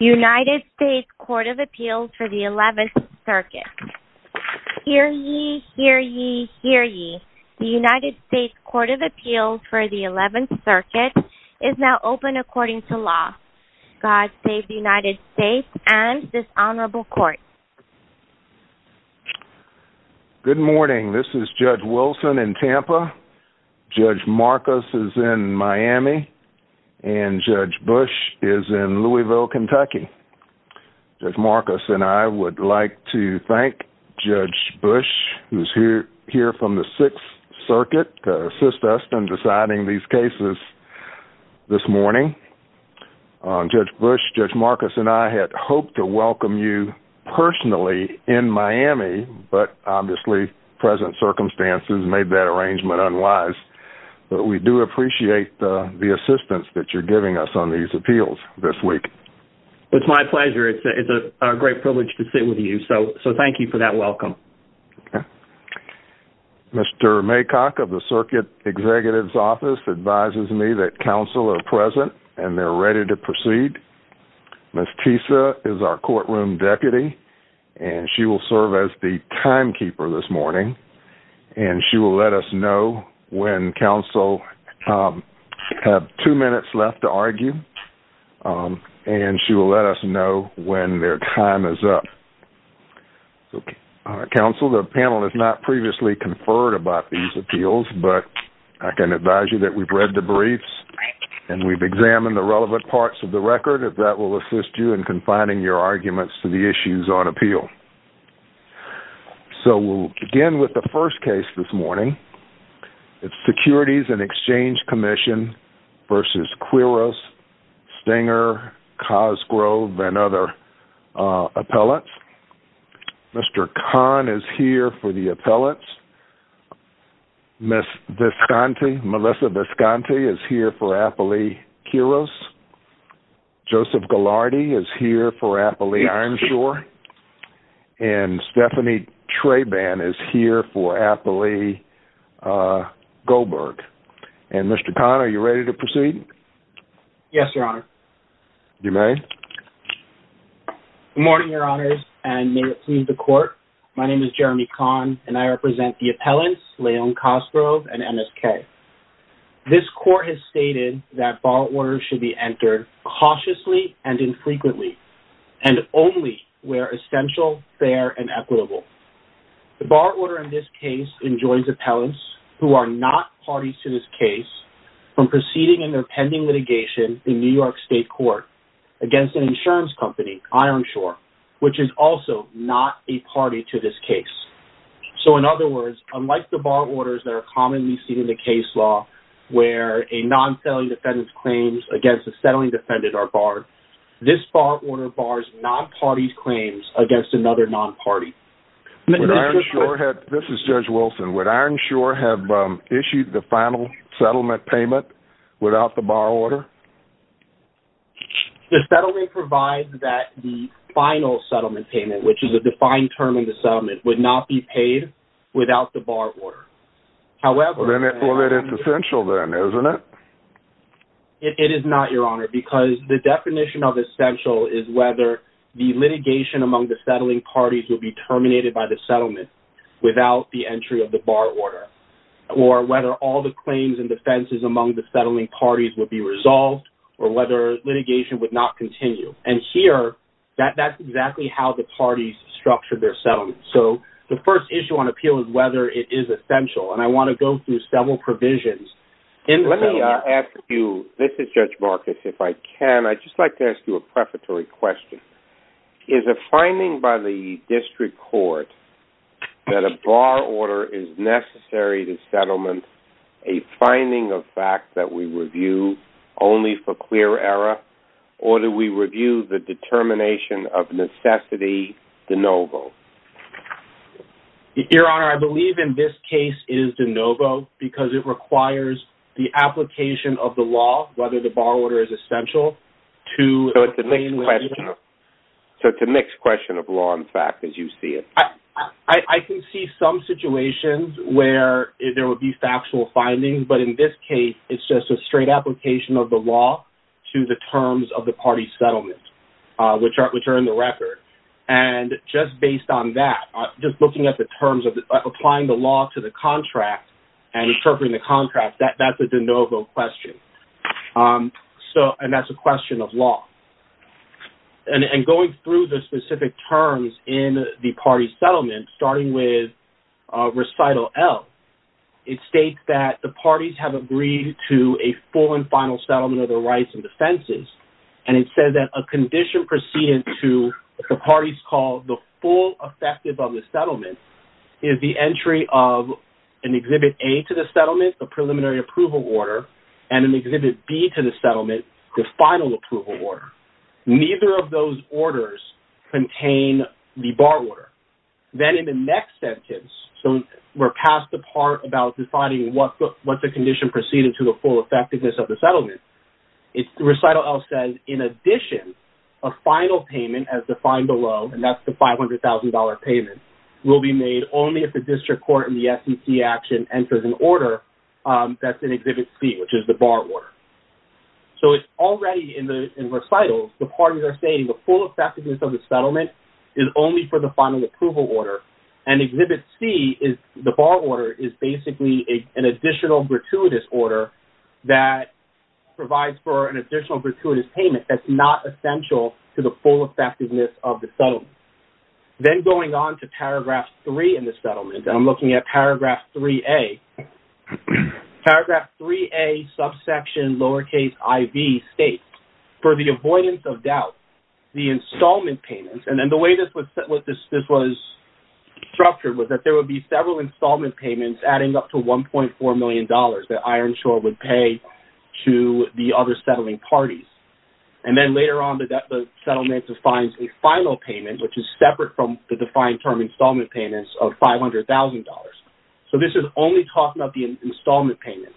United States Court of Appeals for the 11th Circuit. Hear ye, hear ye, hear ye. The United States Court of Appeals for the 11th Circuit is now open according to law. God save the United States and this Honorable Court. Good morning. This is Judge Wilson in Tampa. Judge Marcus is in Miami and Judge Bush is in Louisville, Kentucky. Judge Marcus and I would like to thank Judge Bush who is here from the 6th Circuit to assist us in deciding these cases this morning. Judge Bush, Judge Marcus and I had hoped to welcome you personally in Miami, but obviously present circumstances made that arrangement unwise. But we do appreciate the assistance that you're giving us on these appeals this week. It's my pleasure. It's a great privilege to sit with you, so thank you for that welcome. Mr. Maycock of the Circuit Executive's Office advises me that counsel are present and they're ready to proceed. Ms. Tisa is our courtroom deputy and she will serve as the timekeeper this morning. And she will let us know when counsel have two minutes left to argue and she will let us know when their time is up. Counsel, the panel has not previously conferred about these appeals, but I can advise you that we've read the briefs and we've examined the relevant parts of the record. That will assist you in confining your arguments to the issues on appeal. So we'll begin with the first case this morning. It's Securities and Exchange Commission v. Quiros, Stenger, Cosgrove and other appellates. Mr. Kahn is here for the appellates. Ms. Visconti, Melissa Visconti is here for Appley-Quiros. Joseph Ghilardi is here for Appley-Ironshore. And Stephanie Traban is here for Appley-Goldberg. And Mr. Kahn, are you ready to proceed? Yes, Your Honor. You may. Good morning, Your Honors, and may it please the Court. My name is Jeremy Kahn and I represent the appellants, Leon Cosgrove and MSK. This Court has stated that bar orders should be entered cautiously and infrequently and only where essential, fair, and equitable. The bar order in this case enjoins appellants who are not parties to this case from proceeding in their pending litigation in New York State Court against an insurance company, Ironshore, which is also not a party to this case. So, in other words, unlike the bar orders that are commonly seen in the case law where a non-settling defendant's claims against a settling defendant are barred, this bar order bars non-parties' claims against another non-party. This is Judge Wilson. Would Ironshore have issued the final settlement payment without the bar order? The settling provides that the final settlement payment, which is a defined term in the settlement, would not be paid without the bar order. Well, then it's essential then, isn't it? It is not, Your Honor, because the definition of essential is whether the litigation among the settling parties will be terminated by the settlement without the entry of the bar order, or whether all the claims and defenses among the settling parties would be resolved, or whether litigation would not continue. And here, that's exactly how the parties structure their settlements. So, the first issue on appeal is whether it is essential, and I want to go through several provisions in the settlement. Let me ask you, this is Judge Marcus, if I can, I'd just like to ask you a prefatory question. Is a finding by the district court that a bar order is necessary to settlement a finding of fact that we review only for clear error, or do we review the determination of necessity de novo? Your Honor, I believe in this case it is de novo because it requires the application of the law, whether the bar order is essential, to obtain litigation. So, it's a mixed question of law, in fact, as you see it. I can see some situations where there would be factual findings, but in this case, it's just a straight application of the law to the terms of the party settlement, which are in the record. And just based on that, just looking at the terms of applying the law to the contract and approving the contract, that's a de novo question. So, and that's a question of law. And going through the specific terms in the party settlement, starting with recital L, it states that the parties have agreed to a full and final settlement of their rights and defenses. And it says that a condition preceding to what the parties call the full effectiveness of the settlement is the entry of an Exhibit A to the settlement, a preliminary approval order, and an Exhibit B to the settlement, the final approval order. Neither of those orders contain the bar order. Then in the next sentence, so we're past the part about deciding what's a condition proceeding to the full effectiveness of the settlement. Recital L says, in addition, a final payment as defined below, and that's the $500,000 payment, will be made only if the district court and the SEC action enters an order that's in Exhibit C, which is the bar order. So, it's already in recitals, the parties are saying the full effectiveness of the settlement is only for the final approval order. And Exhibit C, the bar order, is basically an additional gratuitous order that provides for an additional gratuitous payment that's not essential to the full effectiveness of the settlement. Then going on to Paragraph 3 in the settlement, and I'm looking at Paragraph 3A. Paragraph 3A subsection lowercase iv states, for the avoidance of doubt, the installment payments, and then the way this was structured was that there would be several installment payments adding up to $1.4 million that Ironshore would pay to the other settling parties. And then later on, the settlement defines a final payment, which is separate from the defined term installment payments of $500,000. So, this is only talking about the installment payments.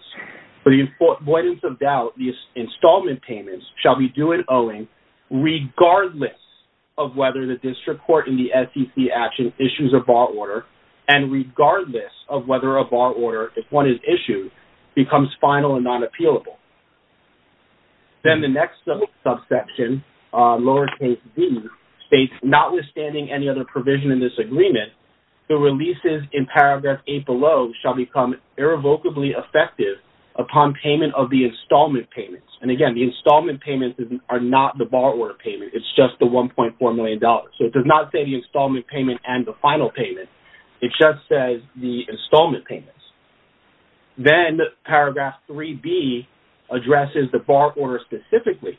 For the avoidance of doubt, the installment payments shall be due and owing regardless of whether the district court and the SEC action issues a bar order, and regardless of whether a bar order, if one is issued, becomes final and not appealable. Then the next subsection, lowercase d, states, notwithstanding any other provision in this agreement, the releases in Paragraph 8 below shall become irrevocably effective upon payment of the installment payments. And again, the installment payments are not the bar order payment. It's just the $1.4 million. So, it does not say the installment payment and the final payment. It just says the installment payments. Then Paragraph 3b addresses the bar order specifically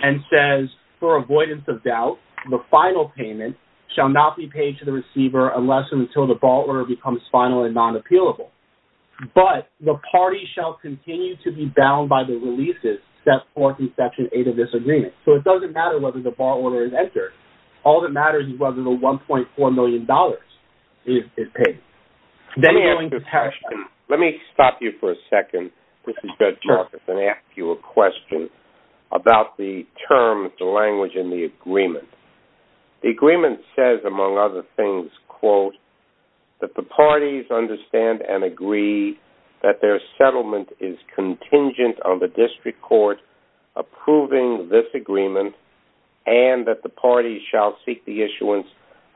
and says, for avoidance of doubt, the final payment shall not be paid to the receiver unless and until the bar order becomes final and not appealable. But the party shall continue to be bound by the releases set forth in Section 8 of this agreement. So, it doesn't matter whether the bar order is entered. All that matters is whether the $1.4 million is paid. Let me ask you a question. Let me stop you for a second. This is Judge Marcus. Let me ask you a question about the terms, the language, and the agreement. The agreement says, among other things, quote, that the parties understand and agree that their settlement is contingent on the district court approving this agreement and that the parties shall seek the issuance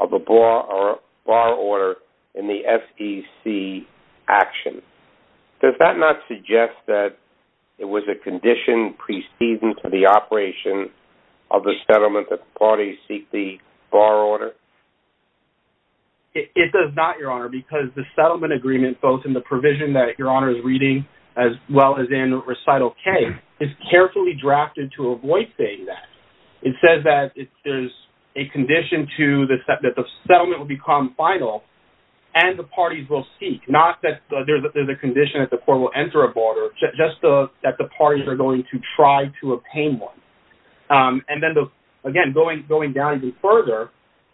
of a bar order in the SEC action. Does that not suggest that it was a condition preceding to the operation of the settlement that the parties seek the bar order? It does not, Your Honor, because the settlement agreement, both in the provision that Your Honor is reading as well as in Recital K, is carefully drafted to avoid saying that. It says that there's a condition that the settlement will become final and the parties will seek. Not that there's a condition that the court will enter a bar order, just that the parties are going to try to obtain one. And then, again, going down even further,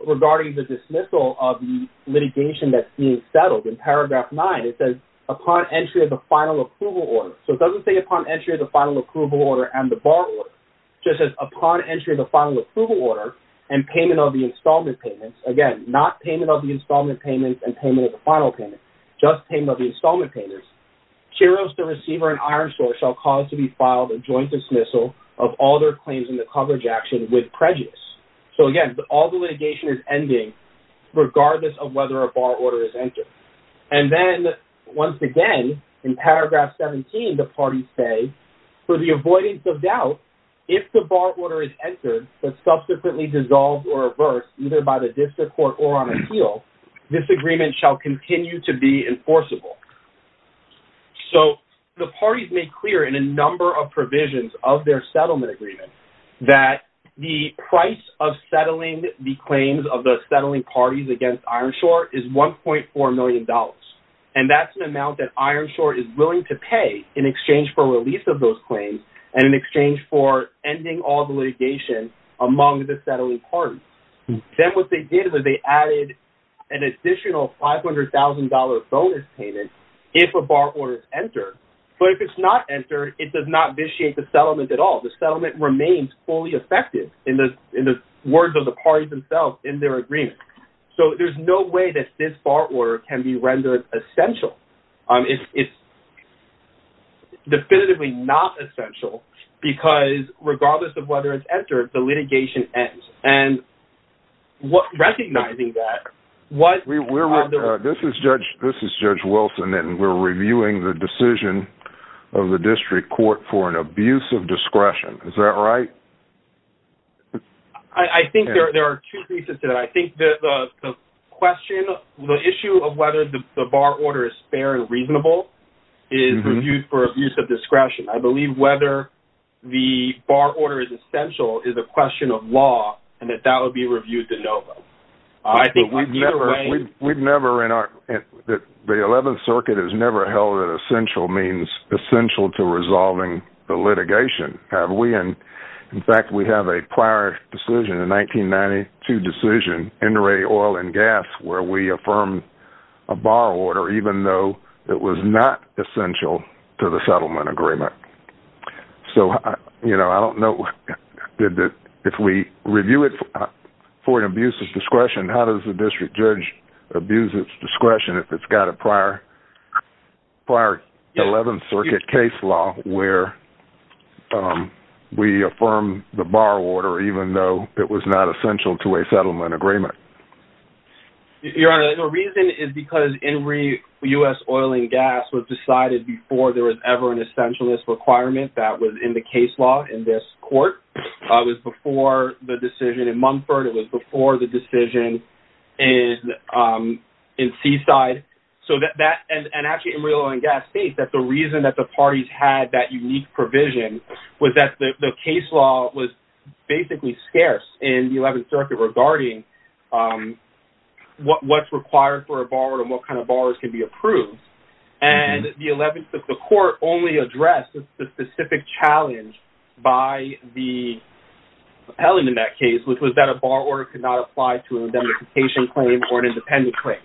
regarding the dismissal of the litigation that's being settled, in paragraph 9, it says, upon entry of the final approval order. So it doesn't say upon entry of the final approval order and the bar order. It just says, upon entry of the final approval order and payment of the installment payments. Again, not payment of the installment payments and payment of the final payment. Just payment of the installment payments. Kiros, the receiver in Ironsource, shall cause to be filed a joint dismissal of all their claims in the coverage action with prejudice. So, again, all the litigation is ending regardless of whether a bar order is entered. And then, once again, in paragraph 17, the parties say, for the avoidance of doubt, if the bar order is entered but subsequently dissolved or reversed, either by the district court or on appeal, this agreement shall continue to be enforceable. So, the parties made clear in a number of provisions of their settlement agreement that the price of settling the claims of the settling parties against Ironsource is $1.4 million. And that's an amount that Ironsource is willing to pay in exchange for release of those claims and in exchange for ending all the litigation among the settling parties. Then what they did was they added an additional $500,000 bonus payment if a bar order is entered. But if it's not entered, it does not vitiate the settlement at all. The settlement remains fully effective in the words of the parties themselves in their agreement. So, there's no way that this bar order can be rendered essential. It's definitively not essential because, regardless of whether it's entered, the litigation ends. Recognizing that... This is Judge Wilson, and we're reviewing the decision of the district court for an abuse of discretion. Is that right? I think there are two pieces to that. I think the question, the issue of whether the bar order is fair and reasonable is reviewed for abuse of discretion. I believe whether the bar order is essential is a question of law and that that would be reviewed to no vote. The 11th Circuit has never held that essential means essential to resolving the litigation, have we? In fact, we have a prior decision, a 1992 decision, NRA Oil and Gas, where we affirmed a bar order even though it was not essential to the settlement agreement. If we review it for an abuse of discretion, how does the district judge abuse its discretion if it's got a prior 11th Circuit case law where we affirm the bar order even though it was not essential to a settlement agreement? Your Honor, the reason is because NRA, U.S. Oil and Gas, was decided before there was ever an essentialness requirement that was in the case law in this court. It was before the decision in Mumford. It was before the decision in Seaside. Actually, NRA Oil and Gas states that the reason that the parties had that unique provision was that the case law was basically scarce in the 11th Circuit regarding what's required for a bar order and what kind of bars can be approved. The 11th Circuit court only addressed the specific challenge by the appellant in that case, which was that a bar order could not apply to a indemnification claim or an independent claim.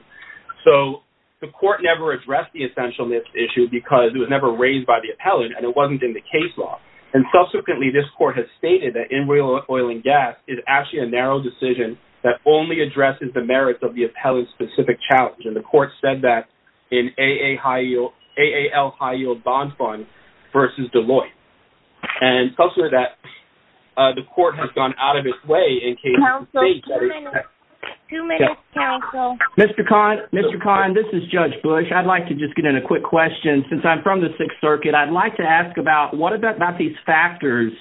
So, the court never addressed the essentialness issue because it was never raised by the appellant and it wasn't in the case law. Subsequently, this court has stated that NRA Oil and Gas is actually a narrow decision that only addresses the merits of the appellant's specific challenge. The court said that in AAL High Yield Bond Fund v. Deloitte. Subsequently, the court has gone out of its way in case the state... Mr. Kahn, this is Judge Bush. I'd like to just get in a quick question. Since I'm from the 6th Circuit, I'd like to ask about what about these factors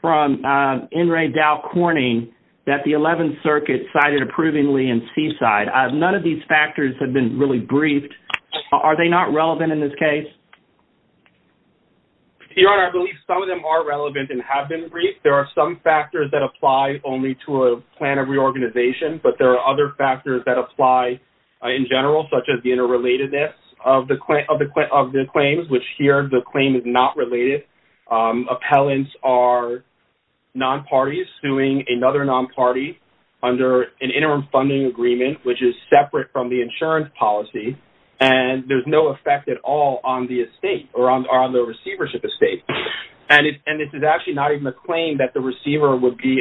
from NRA Dow Corning that the 11th Circuit cited approvingly in Seaside? None of these factors have been really briefed. Are they not relevant in this case? Your Honor, I believe some of them are relevant and have been briefed. There are some factors that apply only to a plan of reorganization, but there are other factors that apply in general, such as the interrelatedness of the claims, which here the claim is not related. Appellants are non-parties suing another non-party under an interim funding agreement, which is separate from the insurance policy, and there's no effect at all on the estate or on the receivership estate. And this is actually not even a claim that the receiver would be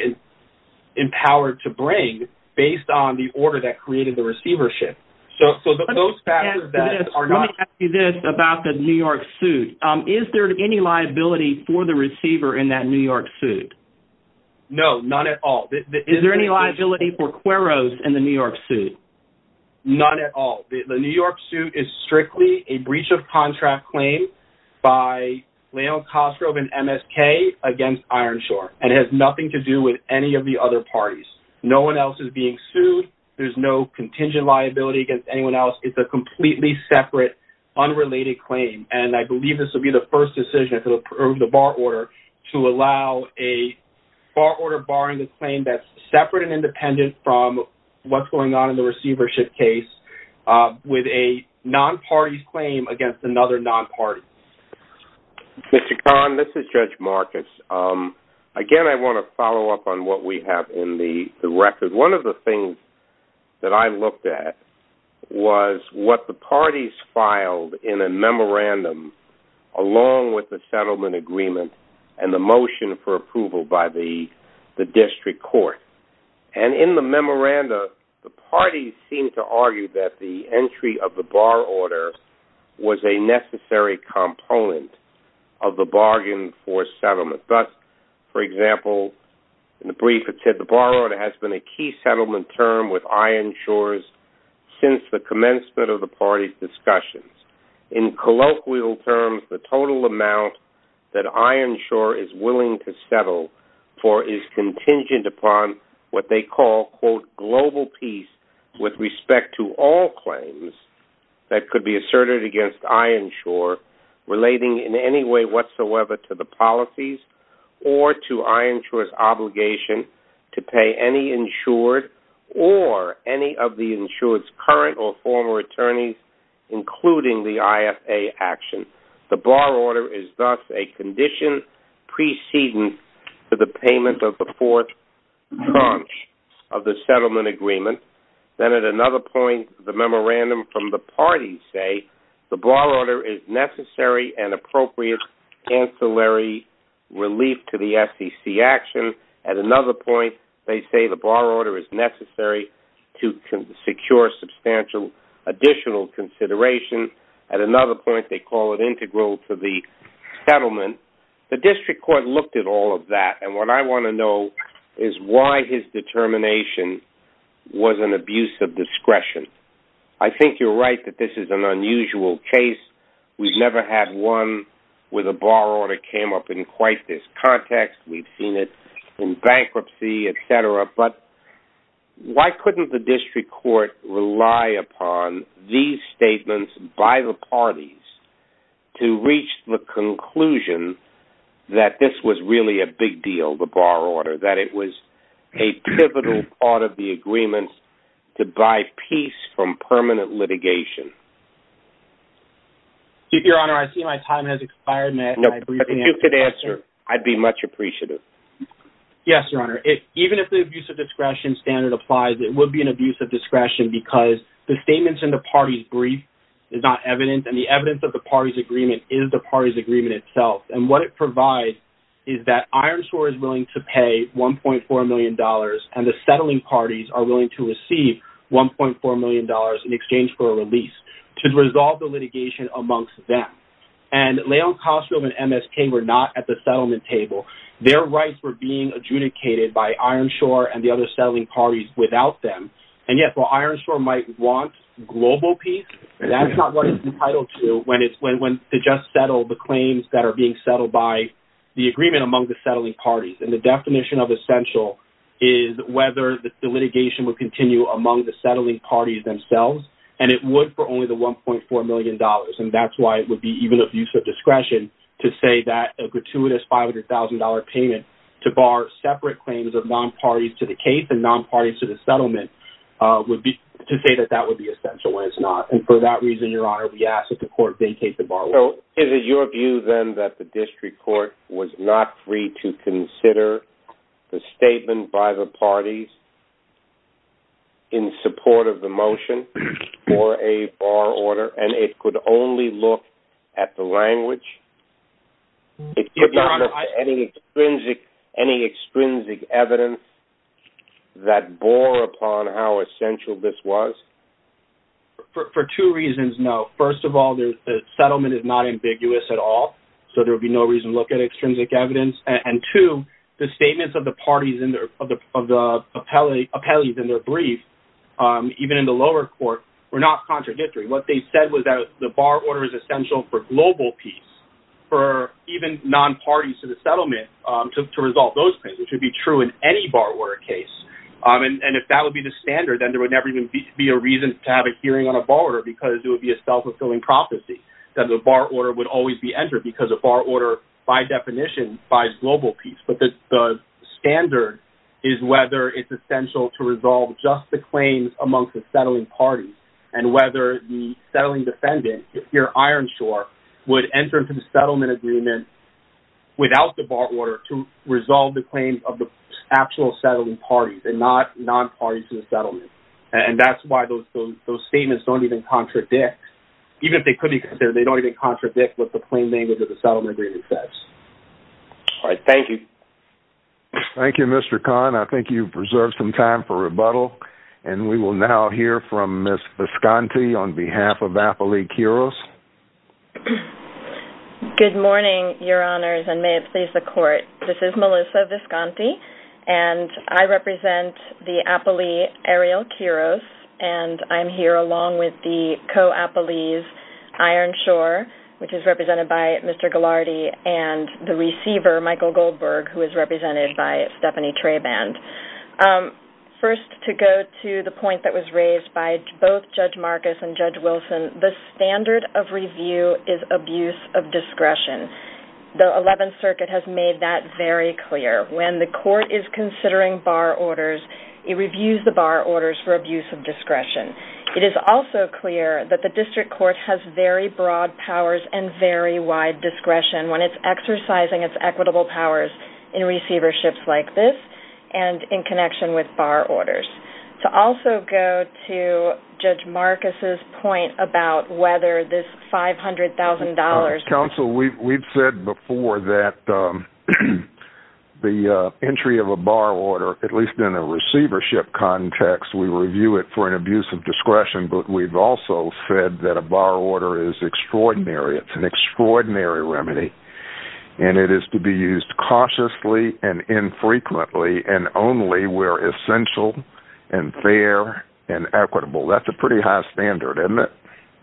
empowered to bring based on the order that created the receivership. Let me ask you this about the New York suit. Is there any liability for the receiver in that New York suit? No, none at all. Is there any liability for queros in the New York suit? None at all. The New York suit is strictly a breach-of-contract claim by Leon Kostrov and MSK against Ironshore, and it has nothing to do with any of the other parties. No one else is being sued. There's no contingent liability against anyone else. It's a completely separate, unrelated claim, and I believe this will be the first decision to approve the bar order to allow a bar order barring a claim that's separate and independent from what's going on in the receivership case with a non-party claim against another non-party. Mr. Kahn, this is Judge Marcus. Again, I want to follow up on what we have in the record. One of the things that I looked at was what the parties filed in a memorandum along with the settlement agreement and the motion for approval by the district court. In the memorandum, the parties seemed to argue that the entry of the bar order was a necessary component of the bargain for settlement. Thus, for example, in the brief it said, the bar order has been a key settlement term with Ironshore since the commencement of the parties' discussions. In colloquial terms, the total amount that Ironshore is willing to settle for is contingent upon what they call a so-called global piece with respect to all claims that could be asserted against Ironshore relating in any way whatsoever to the policies or to Ironshore's obligation to pay any insured or any of the insured's current or former attorneys, including the IFA action. The bar order is thus a condition preceding to the payment of the fourth tranche of the settlement agreement. Then at another point, the memorandum from the parties say, the bar order is necessary and appropriate ancillary relief to the SEC action. At another point, they say the bar order is necessary to secure substantial additional consideration. At another point, they call it integral to the settlement. The district court looked at all of that. And what I want to know is why his determination was an abuse of discretion. I think you're right that this is an unusual case. We've never had one where the bar order came up in quite this context. We've seen it in bankruptcy, et cetera. But why couldn't the district court rely upon these statements by the parties to reach the conclusion that this was really a big deal, the bar order, that it was a pivotal part of the agreement to buy peace from permanent litigation? Your Honor, I see my time has expired. No, but if you could answer, I'd be much appreciative. Yes, Your Honor. Even if the abuse of discretion standard applies, it would be an abuse of discretion because the statements in the party's brief is not evident, and the evidence of the party's agreement is the party's agreement itself. And what it provides is that Ironsore is willing to pay $1.4 million, and the settling parties are willing to receive $1.4 million in exchange for a release to resolve the litigation amongst them. And Leon Cosgrove and MS King were not at the settlement table. Their rights were being adjudicated by Ironsore and the other settling parties without them. And yet while Ironsore might want global peace, that's not what it's entitled to when it's to just settle the claims that are being settled by the agreement among the settling parties. And the definition of essential is whether the litigation would continue among the settling parties themselves, and it would for only the $1.4 million. And that's why it would be even abuse of discretion to say that a gratuitous $500,000 payment to bar separate claims of non-parties to the case and non-parties to the settlement would be to say that that would be essential when it's not. And for that reason, Your Honor, we ask that the court vacate the bar order. So is it your view, then, that the district court was not free to consider the statement by the parties in support of the motion for a bar order, and it could only look at the language? It could not look at any extrinsic evidence that bore upon how essential this was? For two reasons, no. First of all, the settlement is not ambiguous at all, so there would be no reason to look at extrinsic evidence. And two, the statements of the parties in their brief, even in the lower court, were not contradictory. What they said was that the bar order is essential for global peace, for even non-parties to the settlement to resolve those claims, which would be true in any bar order case. And if that would be the standard, then there would never even be a reason to have a hearing on a bar order because it would be a self-fulfilling prophecy that the bar order would always be entered because a bar order, by definition, buys global peace. But the standard is whether it's essential to resolve just the claims amongst the settling parties, and whether the settling defendant, if you're ironshore, would enter into the settlement agreement without the bar order to resolve the claims of the actual settling parties, and not non-parties to the settlement. And that's why those statements don't even contradict. Even if they could be, they don't even contradict what the claimant of the settlement agreement says. All right. Thank you. Thank you, Mr. Kahn. I think you've preserved some time for rebuttal. And we will now hear from Ms. Visconti on behalf of Apolli Kiros. Good morning, Your Honors, and may it please the Court. This is Melissa Visconti, and I represent the Apolli Ariel Kiros, and I'm here along with the co-Apolli's ironshore, which is represented by Mr. Ghilardi, and the receiver, Michael Goldberg, who is represented by Stephanie Traband. First, to go to the point that was raised by both Judge Marcus and Judge Wilson, the standard of review is abuse of discretion. The Eleventh Circuit has made that very clear. When the court is considering bar orders, it reviews the bar orders for abuse of discretion. It is also clear that the district court has very broad powers and very wide discretion when it's exercising its equitable powers in receiverships like this and in connection with bar orders. To also go to Judge Marcus's point about whether this $500,000... The entry of a bar order, at least in a receivership context, we review it for an abuse of discretion, but we've also said that a bar order is extraordinary. It's an extraordinary remedy, and it is to be used cautiously and infrequently and only where essential and fair and equitable. That's a pretty high standard, isn't it?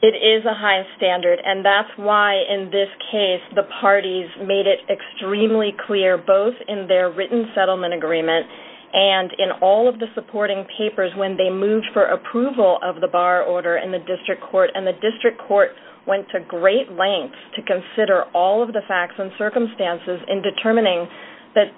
It is a high standard, and that's why, in this case, the parties made it extremely clear both in their written settlement agreement and in all of the supporting papers when they moved for approval of the bar order in the district court, and the district court went to great lengths to consider all of the facts and circumstances in determining that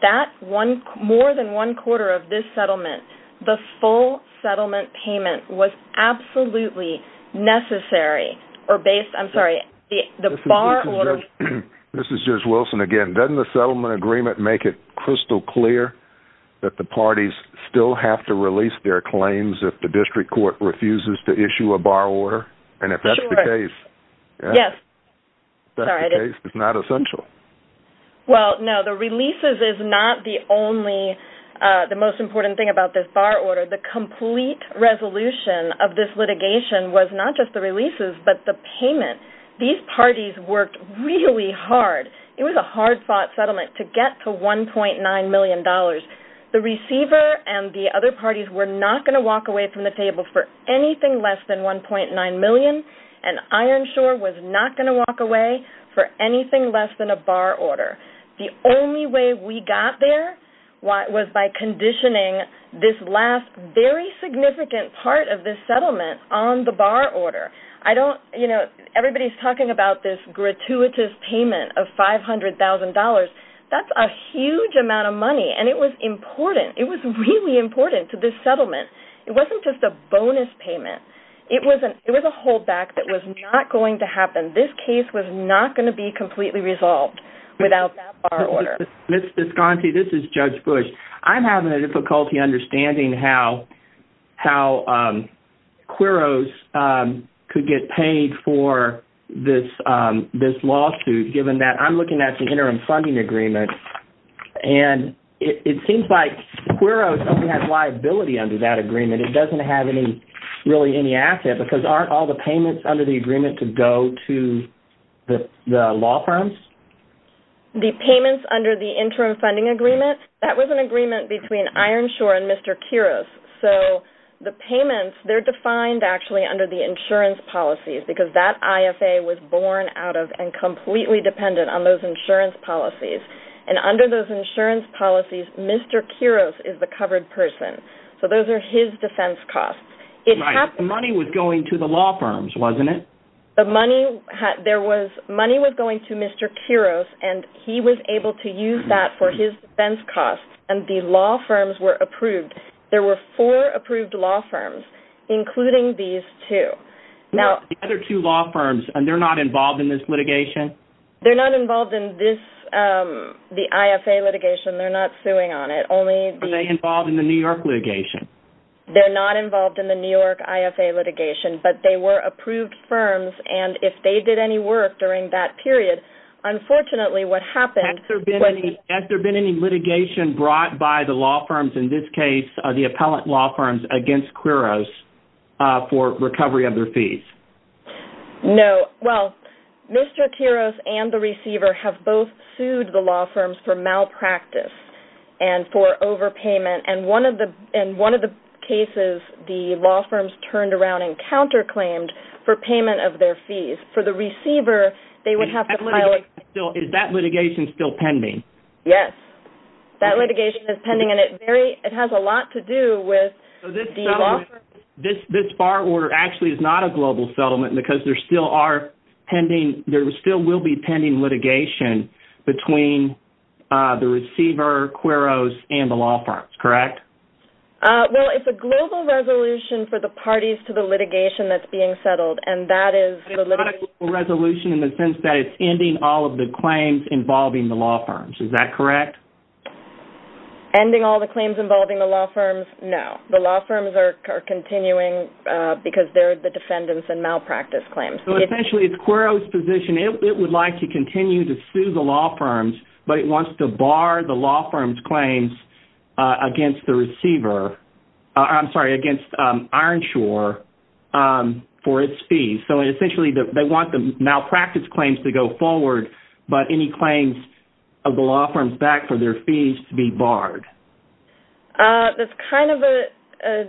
more than one quarter of this settlement, the full settlement payment, was absolutely necessary. I'm sorry, the bar order... This is Judge Wilson again. Doesn't the settlement agreement make it crystal clear that the parties still have to release their claims if the district court refuses to issue a bar order? Sure. And if that's the case... Yes. If that's the case, it's not essential. Well, no, the releases is not the most important thing about this bar order. The complete resolution of this litigation was not just the releases but the payment. These parties worked really hard. It was a hard-fought settlement to get to $1.9 million. The receiver and the other parties were not going to walk away from the table for anything less than $1.9 million, and Ironshore was not going to walk away for anything less than a bar order. The only way we got there was by conditioning this last very significant part of this settlement on the bar order. Everybody's talking about this gratuitous payment of $500,000. That's a huge amount of money, and it was important. It was really important to this settlement. It wasn't just a bonus payment. It was a holdback that was not going to happen. This case was not going to be completely resolved without that bar order. Ms. Visconti, this is Judge Bush. I'm having a difficulty understanding how QUROs could get paid for this lawsuit, given that I'm looking at the interim funding agreement, and it seems like QUROs only have liability under that agreement. It doesn't have really any asset, because aren't all the payments under the agreement to go to the law firms? The payments under the interim funding agreement, that was an agreement between Ironshore and Mr. QUROs. So the payments, they're defined actually under the insurance policies, because that IFA was born out of and completely dependent on those insurance policies. And under those insurance policies, Mr. QUROs is the covered person. So those are his defense costs. The money was going to the law firms, wasn't it? The money was going to Mr. QUROs, and he was able to use that for his defense costs, and the law firms were approved. There were four approved law firms, including these two. The other two law firms, they're not involved in this litigation? They're not involved in the IFA litigation. They're not suing on it. Are they involved in the New York litigation? They're not involved in the New York IFA litigation, but they were approved firms, and if they did any work during that period, unfortunately what happened was they- Has there been any litigation brought by the law firms, in this case the appellant law firms, against QUROs for recovery of their fees? No. Well, Mr. QUROs and the receiver have both sued the law firms for malpractice and for overpayment, and one of the cases the law firms turned around and counterclaimed for payment of their fees. For the receiver, they would have to- Is that litigation still pending? Yes. That litigation is pending, and it has a lot to do with the law firms- This bar order actually is not a global settlement because there still are pending- There still will be pending litigation between the receiver, QUROs, and the law firms, correct? Well, it's a global resolution for the parties to the litigation that's being settled, and that is the litigation- It's not a global resolution in the sense that it's ending all of the claims involving the law firms. Is that correct? Ending all the claims involving the law firms? No. The law firms are continuing because they're the defendants in malpractice claims. Essentially, it's QUROs' position. It would like to continue to sue the law firms, but it wants to bar the law firms' claims against the receiver-I'm sorry, against Ironshore for its fees. Essentially, they want the malpractice claims to go forward, but any claims of the law firms back for their fees to be barred. That's kind of a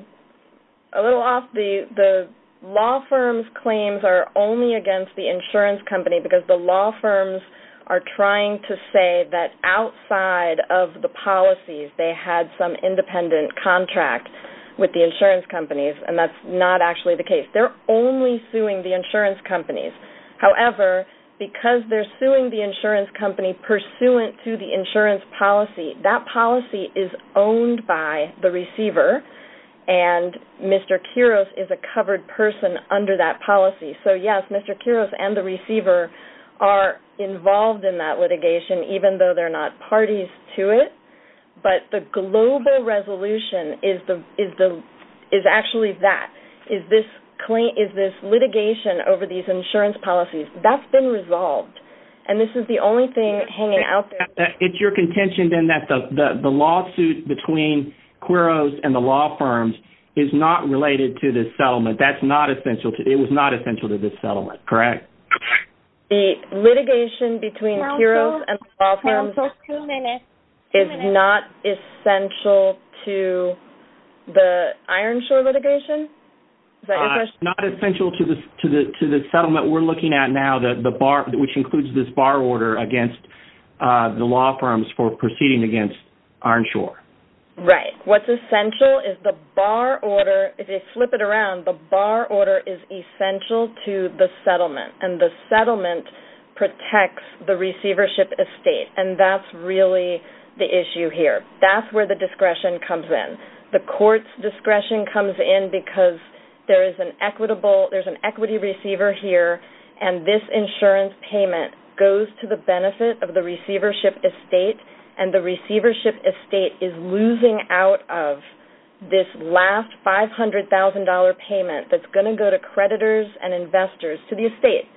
little off. The law firms' claims are only against the insurance company because the law firms are trying to say that outside of the policies, they had some independent contract with the insurance companies, and that's not actually the case. They're only suing the insurance companies. However, because they're suing the insurance company pursuant to the insurance policy, that policy is owned by the receiver, and Mr. QUROs is a covered person under that policy. So, yes, Mr. QUROs and the receiver are involved in that litigation, even though they're not parties to it, but the global resolution is actually that, is this litigation over these insurance policies. That's been resolved, and this is the only thing hanging out there. It's your contention then that the lawsuit between QUROs and the law firms is not related to this settlement. That's not essential. It was not essential to this settlement, correct? The litigation between QUROs and the law firms is not essential to the Ironshore litigation? Not essential to the settlement. We're looking at now the bar, which includes this bar order, against the law firms for proceeding against Ironshore. Right. What's essential is the bar order. If you flip it around, the bar order is essential to the settlement, and the settlement protects the receivership estate, and that's really the issue here. That's where the discretion comes in. The court's discretion comes in because there's an equity receiver here, and this insurance payment goes to the benefit of the receivership estate, and the receivership estate is losing out of this last $500,000 payment that's going to go to creditors and investors to the estate.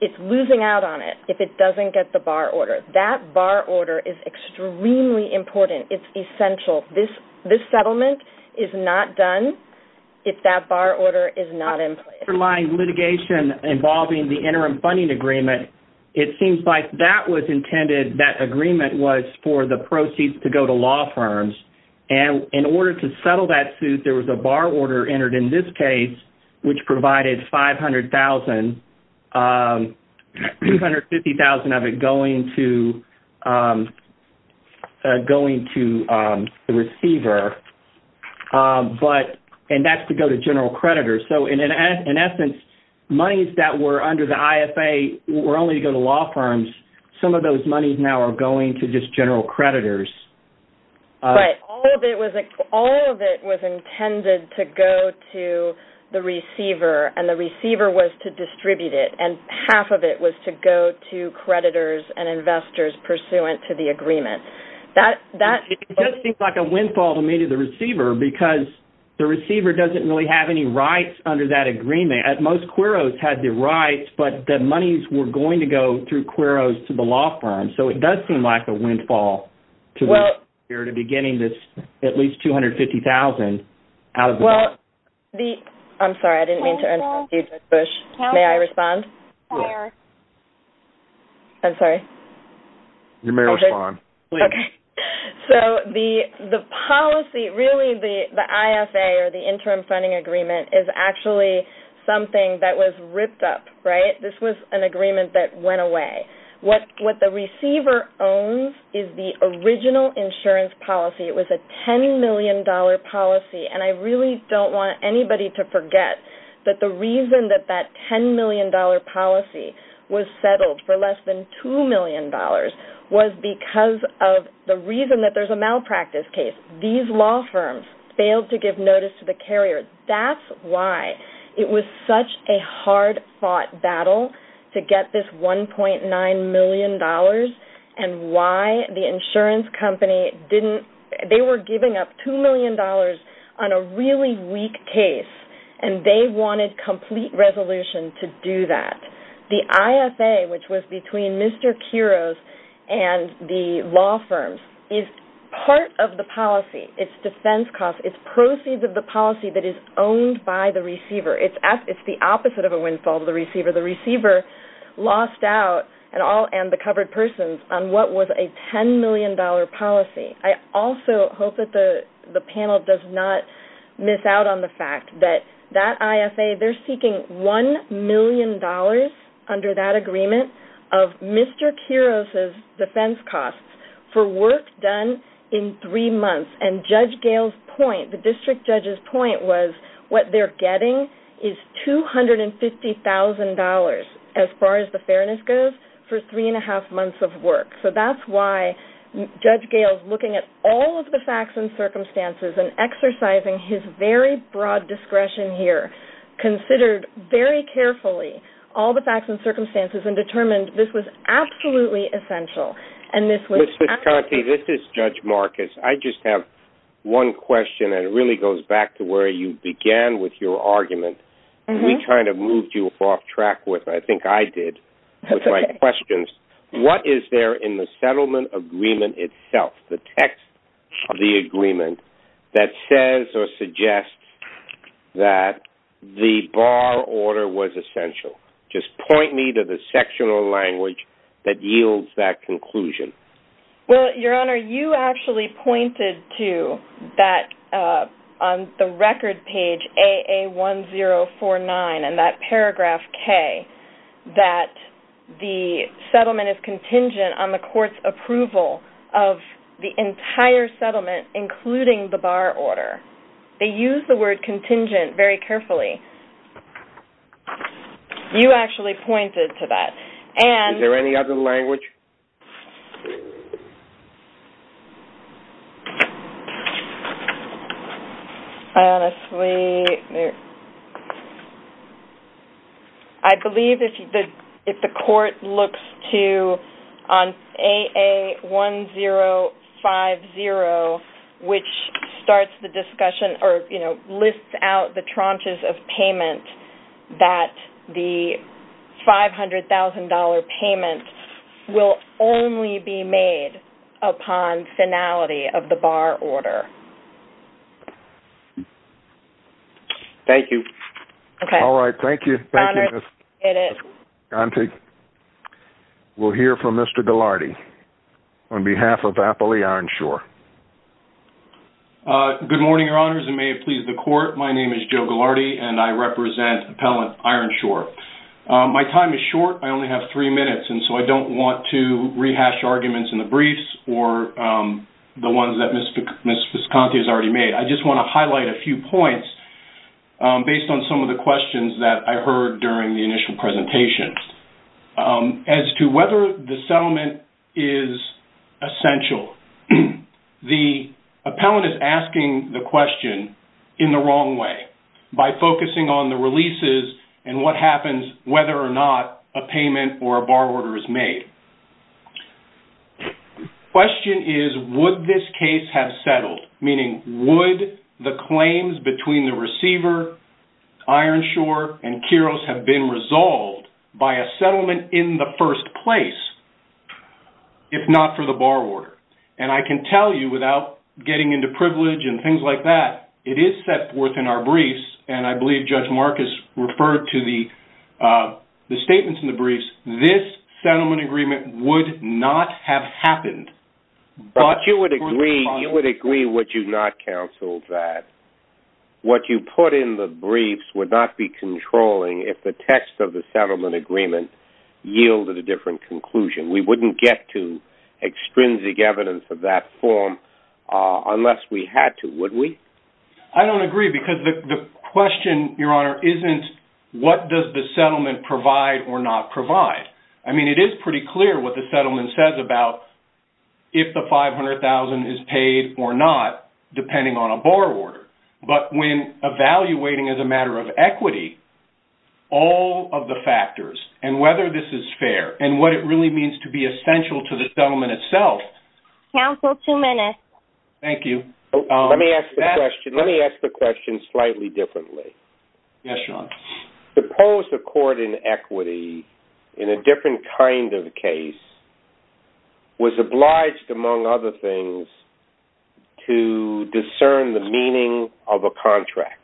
It's losing out on it if it doesn't get the bar order. That bar order is extremely important. It's essential. This settlement is not done if that bar order is not in place. For my litigation involving the interim funding agreement, it seems like that was intended, that agreement was for the proceeds to go to law firms, and in order to settle that suit, there was a bar order entered in this case, which provided $500,000, $250,000 of it going to the receiver, and that's to go to general creditors. In essence, monies that were under the IFA were only to go to law firms. Some of those monies now are going to just general creditors. Right. All of it was intended to go to the receiver, and the receiver was to distribute it, and half of it was to go to creditors and investors pursuant to the agreement. It just seems like a windfall to me to the receiver because the receiver doesn't really have any rights under that agreement. Most queros had the rights, but the monies were going to go through queros to the law firm, so it does seem like a windfall to me to be getting at least $250,000 out of this. I'm sorry, I didn't mean to interrupt you, Judge Bush. May I respond? Yes. I'm sorry. You may respond. Okay. So the policy, really the IFA or the interim funding agreement is actually something that was ripped up, right? This was an agreement that went away. What the receiver owns is the original insurance policy. It was a $10 million policy, and I really don't want anybody to forget that the reason that that $10 million policy was settled for less than $2 million was because of the reason that there's a malpractice case. These law firms failed to give notice to the carrier. That's why it was such a hard-fought battle to get this $1.9 million and why the insurance company didn't – they were giving up $2 million on a really weak case, and they wanted complete resolution to do that. The IFA, which was between Mr. Queros and the law firms, is part of the policy. It's defense costs. It's proceeds of the policy that is owned by the receiver. It's the opposite of a windfall to the receiver. The receiver lost out, and the covered persons, on what was a $10 million policy. I also hope that the panel does not miss out on the fact that that IFA, they're seeking $1 million under that agreement of Mr. Queros' defense costs for work done in three months. And Judge Gail's point, the district judge's point, was what they're getting is $250,000, as far as the fairness goes, for three-and-a-half months of work. So that's why Judge Gail's looking at all of the facts and circumstances and exercising his very broad discretion here, considered very carefully all the facts and circumstances and determined this was absolutely essential and this was absolutely essential. Ms. Conte, this is Judge Marcus. I just have one question, and it really goes back to where you began with your argument. We kind of moved you off track with what I think I did with my questions. What is there in the settlement agreement itself, the text of the agreement, that says or suggests that the bar order was essential? Just point me to the sectional language that yields that conclusion. Well, Your Honor, you actually pointed to that on the record page, AA1049, in that paragraph K, that the settlement is contingent on the court's approval of the entire settlement, including the bar order. They use the word contingent very carefully. You actually pointed to that. Is there any other language? Honestly, I believe if the court looks to, on AA1050, which starts the discussion or lists out the tranches of payment, that the $500,000 payment will be subject to the court's approval. It will only be made upon finality of the bar order. Thank you. Okay. All right, thank you. Thank you, Ms. Gontig. We'll hear from Mr. Ghilardi on behalf of Appley Ironshore. Good morning, Your Honors, and may it please the court. My name is Joe Ghilardi, and I represent Appellant Ironshore. My time is short. I only have three minutes, and so I don't want to rehash arguments in the briefs or the ones that Ms. Gontig has already made. I just want to highlight a few points based on some of the questions that I heard during the initial presentation. As to whether the settlement is essential, the appellant is asking the question in the wrong way by focusing on the question that happens whether or not a payment or a bar order is made. The question is, would this case have settled? Meaning, would the claims between the receiver, Ironshore and Kiros have been resolved by a settlement in the first place if not for the bar order? And I can tell you without getting into privilege and things like that, it is set forth in our briefs, and I believe Judge Marcus referred to the statements in the briefs, this settlement agreement would not have happened. But you would agree what you not counseled, that what you put in the briefs would not be controlling if the text of the settlement agreement yielded a different conclusion. We wouldn't get to extrinsic evidence of that form unless we had to, would we? I don't agree because the question, Your Honor, isn't what does the settlement provide or not provide. I mean, it is pretty clear what the settlement says about if the $500,000 is paid or not, depending on a bar order. But when evaluating as a matter of equity, all of the factors and whether this is fair and what it really means to be essential to the settlement itself. Counsel, two minutes. Thank you. Let me ask the question slightly differently. Yes, Your Honor. Suppose a court in equity in a different kind of case was obliged, among other things, to discern the meaning of a contract.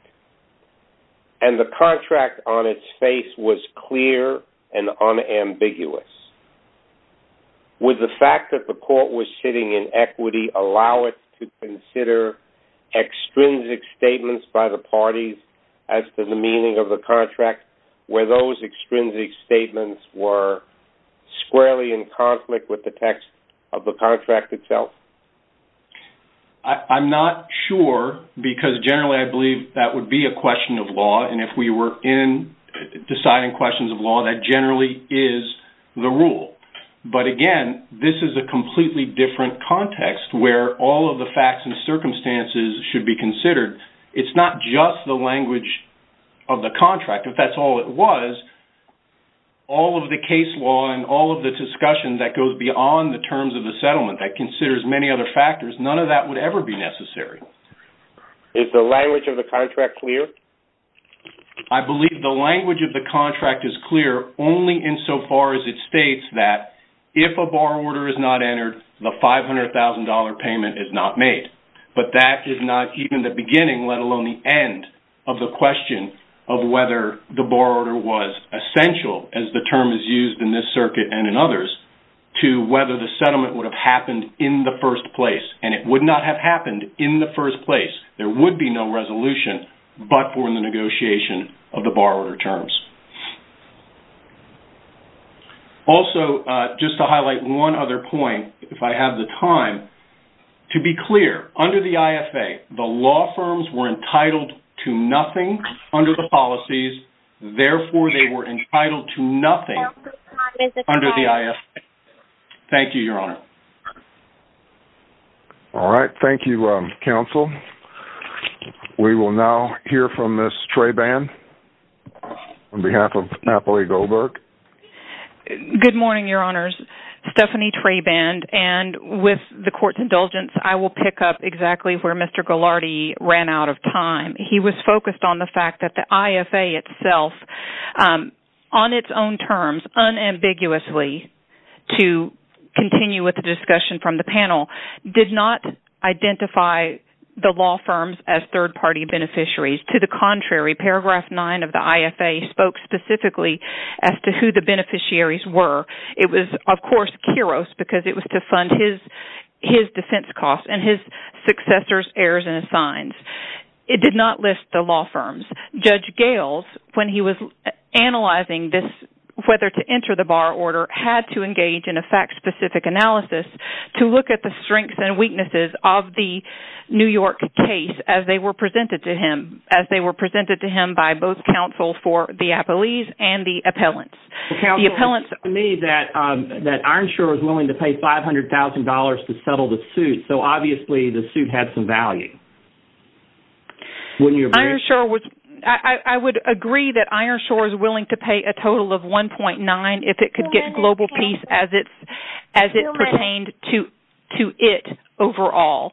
And the contract on its face was clear and unambiguous. Would the fact that the court was sitting in equity allow it to consider extrinsic statements by the parties as to the meaning of the contract where those extrinsic statements were squarely in conflict with the text of the contract itself? I'm not sure because generally I believe that would be a question of law. And if we were in deciding questions of law, that generally is the rule. But, again, this is a completely different context where all of the facts and circumstances should be considered. It's not just the language of the contract. If that's all it was, all of the case law and all of the discussion that goes beyond the terms of the settlement that considers many other factors, none of that would ever be necessary. Is the language of the contract clear? I believe the language of the contract is clear only in so far as it states that if a borrower is not entered, the $500,000 payment is not made. But that is not even the beginning, let alone the end, of the question of whether the borrower was essential, as the term is used in this circuit and in others, to whether the settlement would have happened in the first place. And it would not have happened in the first place. There would be no resolution but for the negotiation of the borrower terms. Also, just to highlight one other point, if I have the time, to be clear, under the IFA, the law firms were entitled to nothing under the policies. Therefore, they were entitled to nothing under the IFA. Thank you, Your Honor. All right, thank you, Counsel. We will now hear from Ms. Traband on behalf of Natalie Goldberg. Good morning, Your Honors. Stephanie Traband, and with the Court's indulgence, I will pick up exactly where Mr. Ghilardi ran out of time. He was focused on the fact that the IFA itself, on its own terms, did not identify the law firms as third-party beneficiaries. To the contrary, Paragraph 9 of the IFA spoke specifically as to who the beneficiaries were. It was, of course, Kiros because it was to fund his defense costs and his successor's errors and assigns. It did not list the law firms. Judge Gales, when he was analyzing this, whether to enter the borrower order, had to engage in a fact-specific analysis to look at the strengths and weaknesses of the New York case as they were presented to him, as they were presented to him by both counsels for the appellees and the appellants. The appellants made that Ironshore was willing to pay $500,000 to settle the suit, so obviously the suit had some value. Wouldn't you agree? I would agree that Ironshore is willing to pay a total of $1.9 if it could get global peace as it pertained to it overall.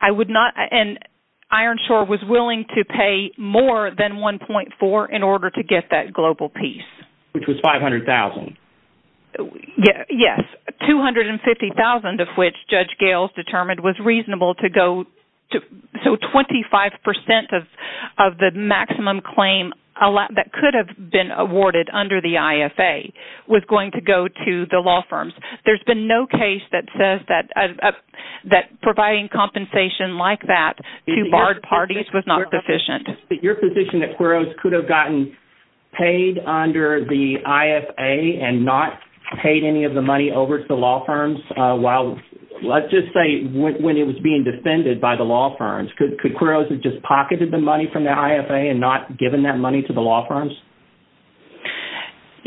And Ironshore was willing to pay more than $1.4 in order to get that global peace. Which was $500,000. Yes, $250,000 of which Judge Gales determined was reasonable to go. So 25% of the maximum claim that could have been awarded under the IFA was going to go to the law firms. There's been no case that says that providing compensation like that to barred parties was not sufficient. But your position that Quiros could have gotten paid under the IFA and not paid any of the money over to the law firms while, let's just say when it was being defended by the law firms, could Quiros have just pocketed the money from the IFA and not given that money to the law firms?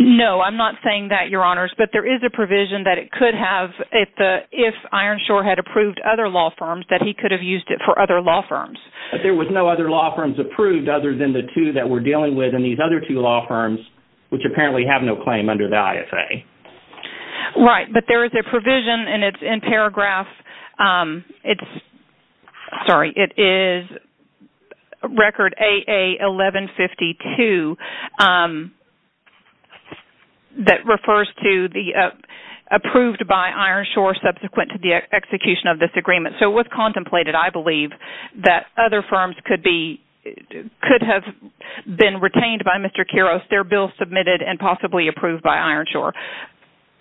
No, I'm not saying that, Your Honors. But there is a provision that it could have, if Ironshore had approved other law firms, that he could have used it for other law firms. But there was no other law firms approved other than the two that we're dealing with and these other two law firms which apparently have no claim under the IFA. Right, but there is a provision and it's in paragraph... Sorry, it is record AA1152 that refers to the approved by Ironshore subsequent to the execution of this agreement. So it was contemplated, I believe, that other firms could have been retained by Mr. Quiros, their bill submitted and possibly approved by Ironshore.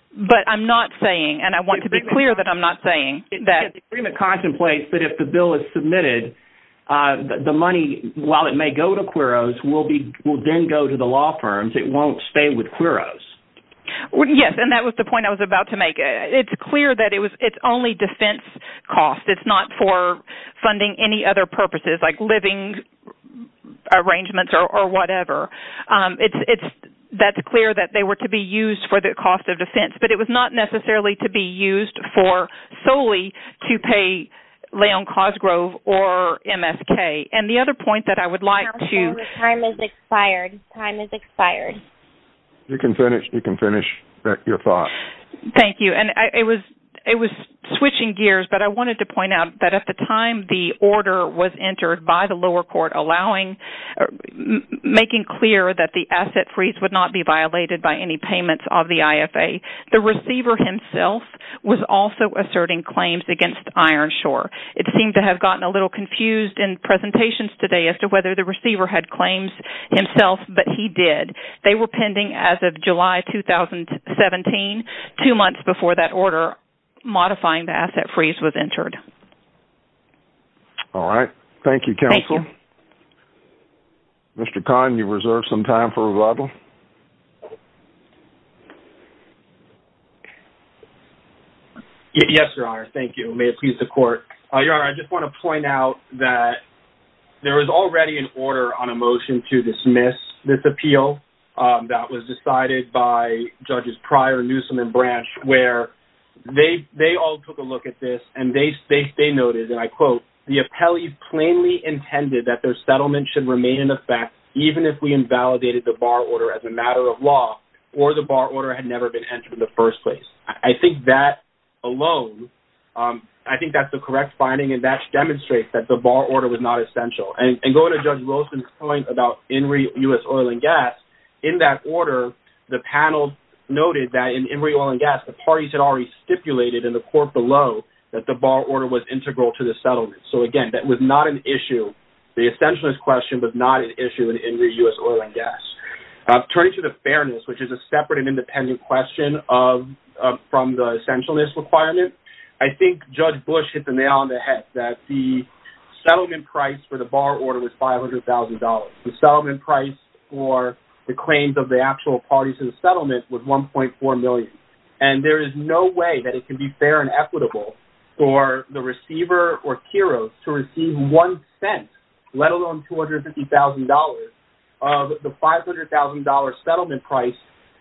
But I'm not saying, and I want to be clear that I'm not saying that... The agreement contemplates that if the bill is submitted, the money, while it may go to Quiros, will then go to the law firms. It won't stay with Quiros. Yes, and that was the point I was about to make. It's clear that it's only defense cost. It's not for funding any other purposes like living arrangements or whatever. That's clear that they were to be used for the cost of defense, but it was not necessarily to be used for solely to pay Leon Cosgrove or MSK. And the other point that I would like to... Counselor, the time has expired. Time has expired. You can finish your thought. Thank you. And it was switching gears, but I wanted to point out that at the time the order was entered by the lower court making clear that the asset freeze would not be violated by any payments of the IFA, the receiver himself was also asserting claims against Ironshore. It seemed to have gotten a little confused in presentations today as to whether the receiver had claims himself, but he did. They were pending as of July 2017, two months before that order modifying the asset freeze was entered. All right. Thank you, Counselor. Mr. Kahn, you've reserved some time for revival. Yes, Your Honor. Thank you. May it please the Court. Your Honor, I just want to point out that there was already an order on a motion to dismiss this appeal that was decided by Judges Pryor, Newsom, and Branch where they all took a look at this and they noted, and I quote, the appellees plainly intended that their settlement should remain in effect even if we invalidated the bar order as a matter of law or the bar order had never been entered in the first place. I think that alone, I think that's the correct finding and that demonstrates that the bar order was not essential. And going to Judge Wilson's point about Inree U.S. Oil & Gas, in that order the panel noted that in Inree Oil & Gas the parties had already stipulated in the court below that the bar order was integral to the settlement. So, again, that was not an issue. The essentialness question was not an issue in Inree U.S. Oil & Gas. Turning to the fairness, which is a separate and independent question from the essentialness requirement, I think Judge Bush hit the nail on the head that the settlement price for the bar order was $500,000. The settlement price for the claims of the actual parties in the settlement was $1.4 million. And there is no way that it can be fair and equitable for the receiver or Kiros to receive one cent, let alone $250,000, of the $500,000 settlement price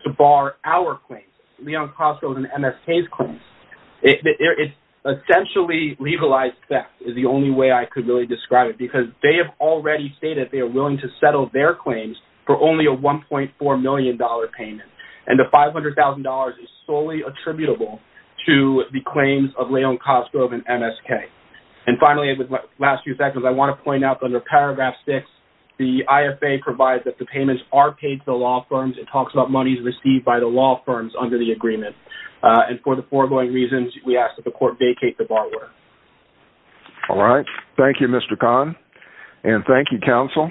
to bar our claims, Leon Kostko's and MSK's claims. It's essentially legalized theft is the only way I could really describe it because they have already stated they are willing to settle their claims for only a $1.4 million payment. And the $500,000 is solely attributable to the claims of Leon Kostko and MSK. And finally, with the last few seconds, I want to point out that under paragraph 6, the IFA provides that the payments are paid to the law firms. It talks about monies received by the law firms under the agreement. And for the foregoing reasons, we ask that the court vacate the bar order. All right. Thank you, Mr. Khan. And thank you, counsel. Thank you.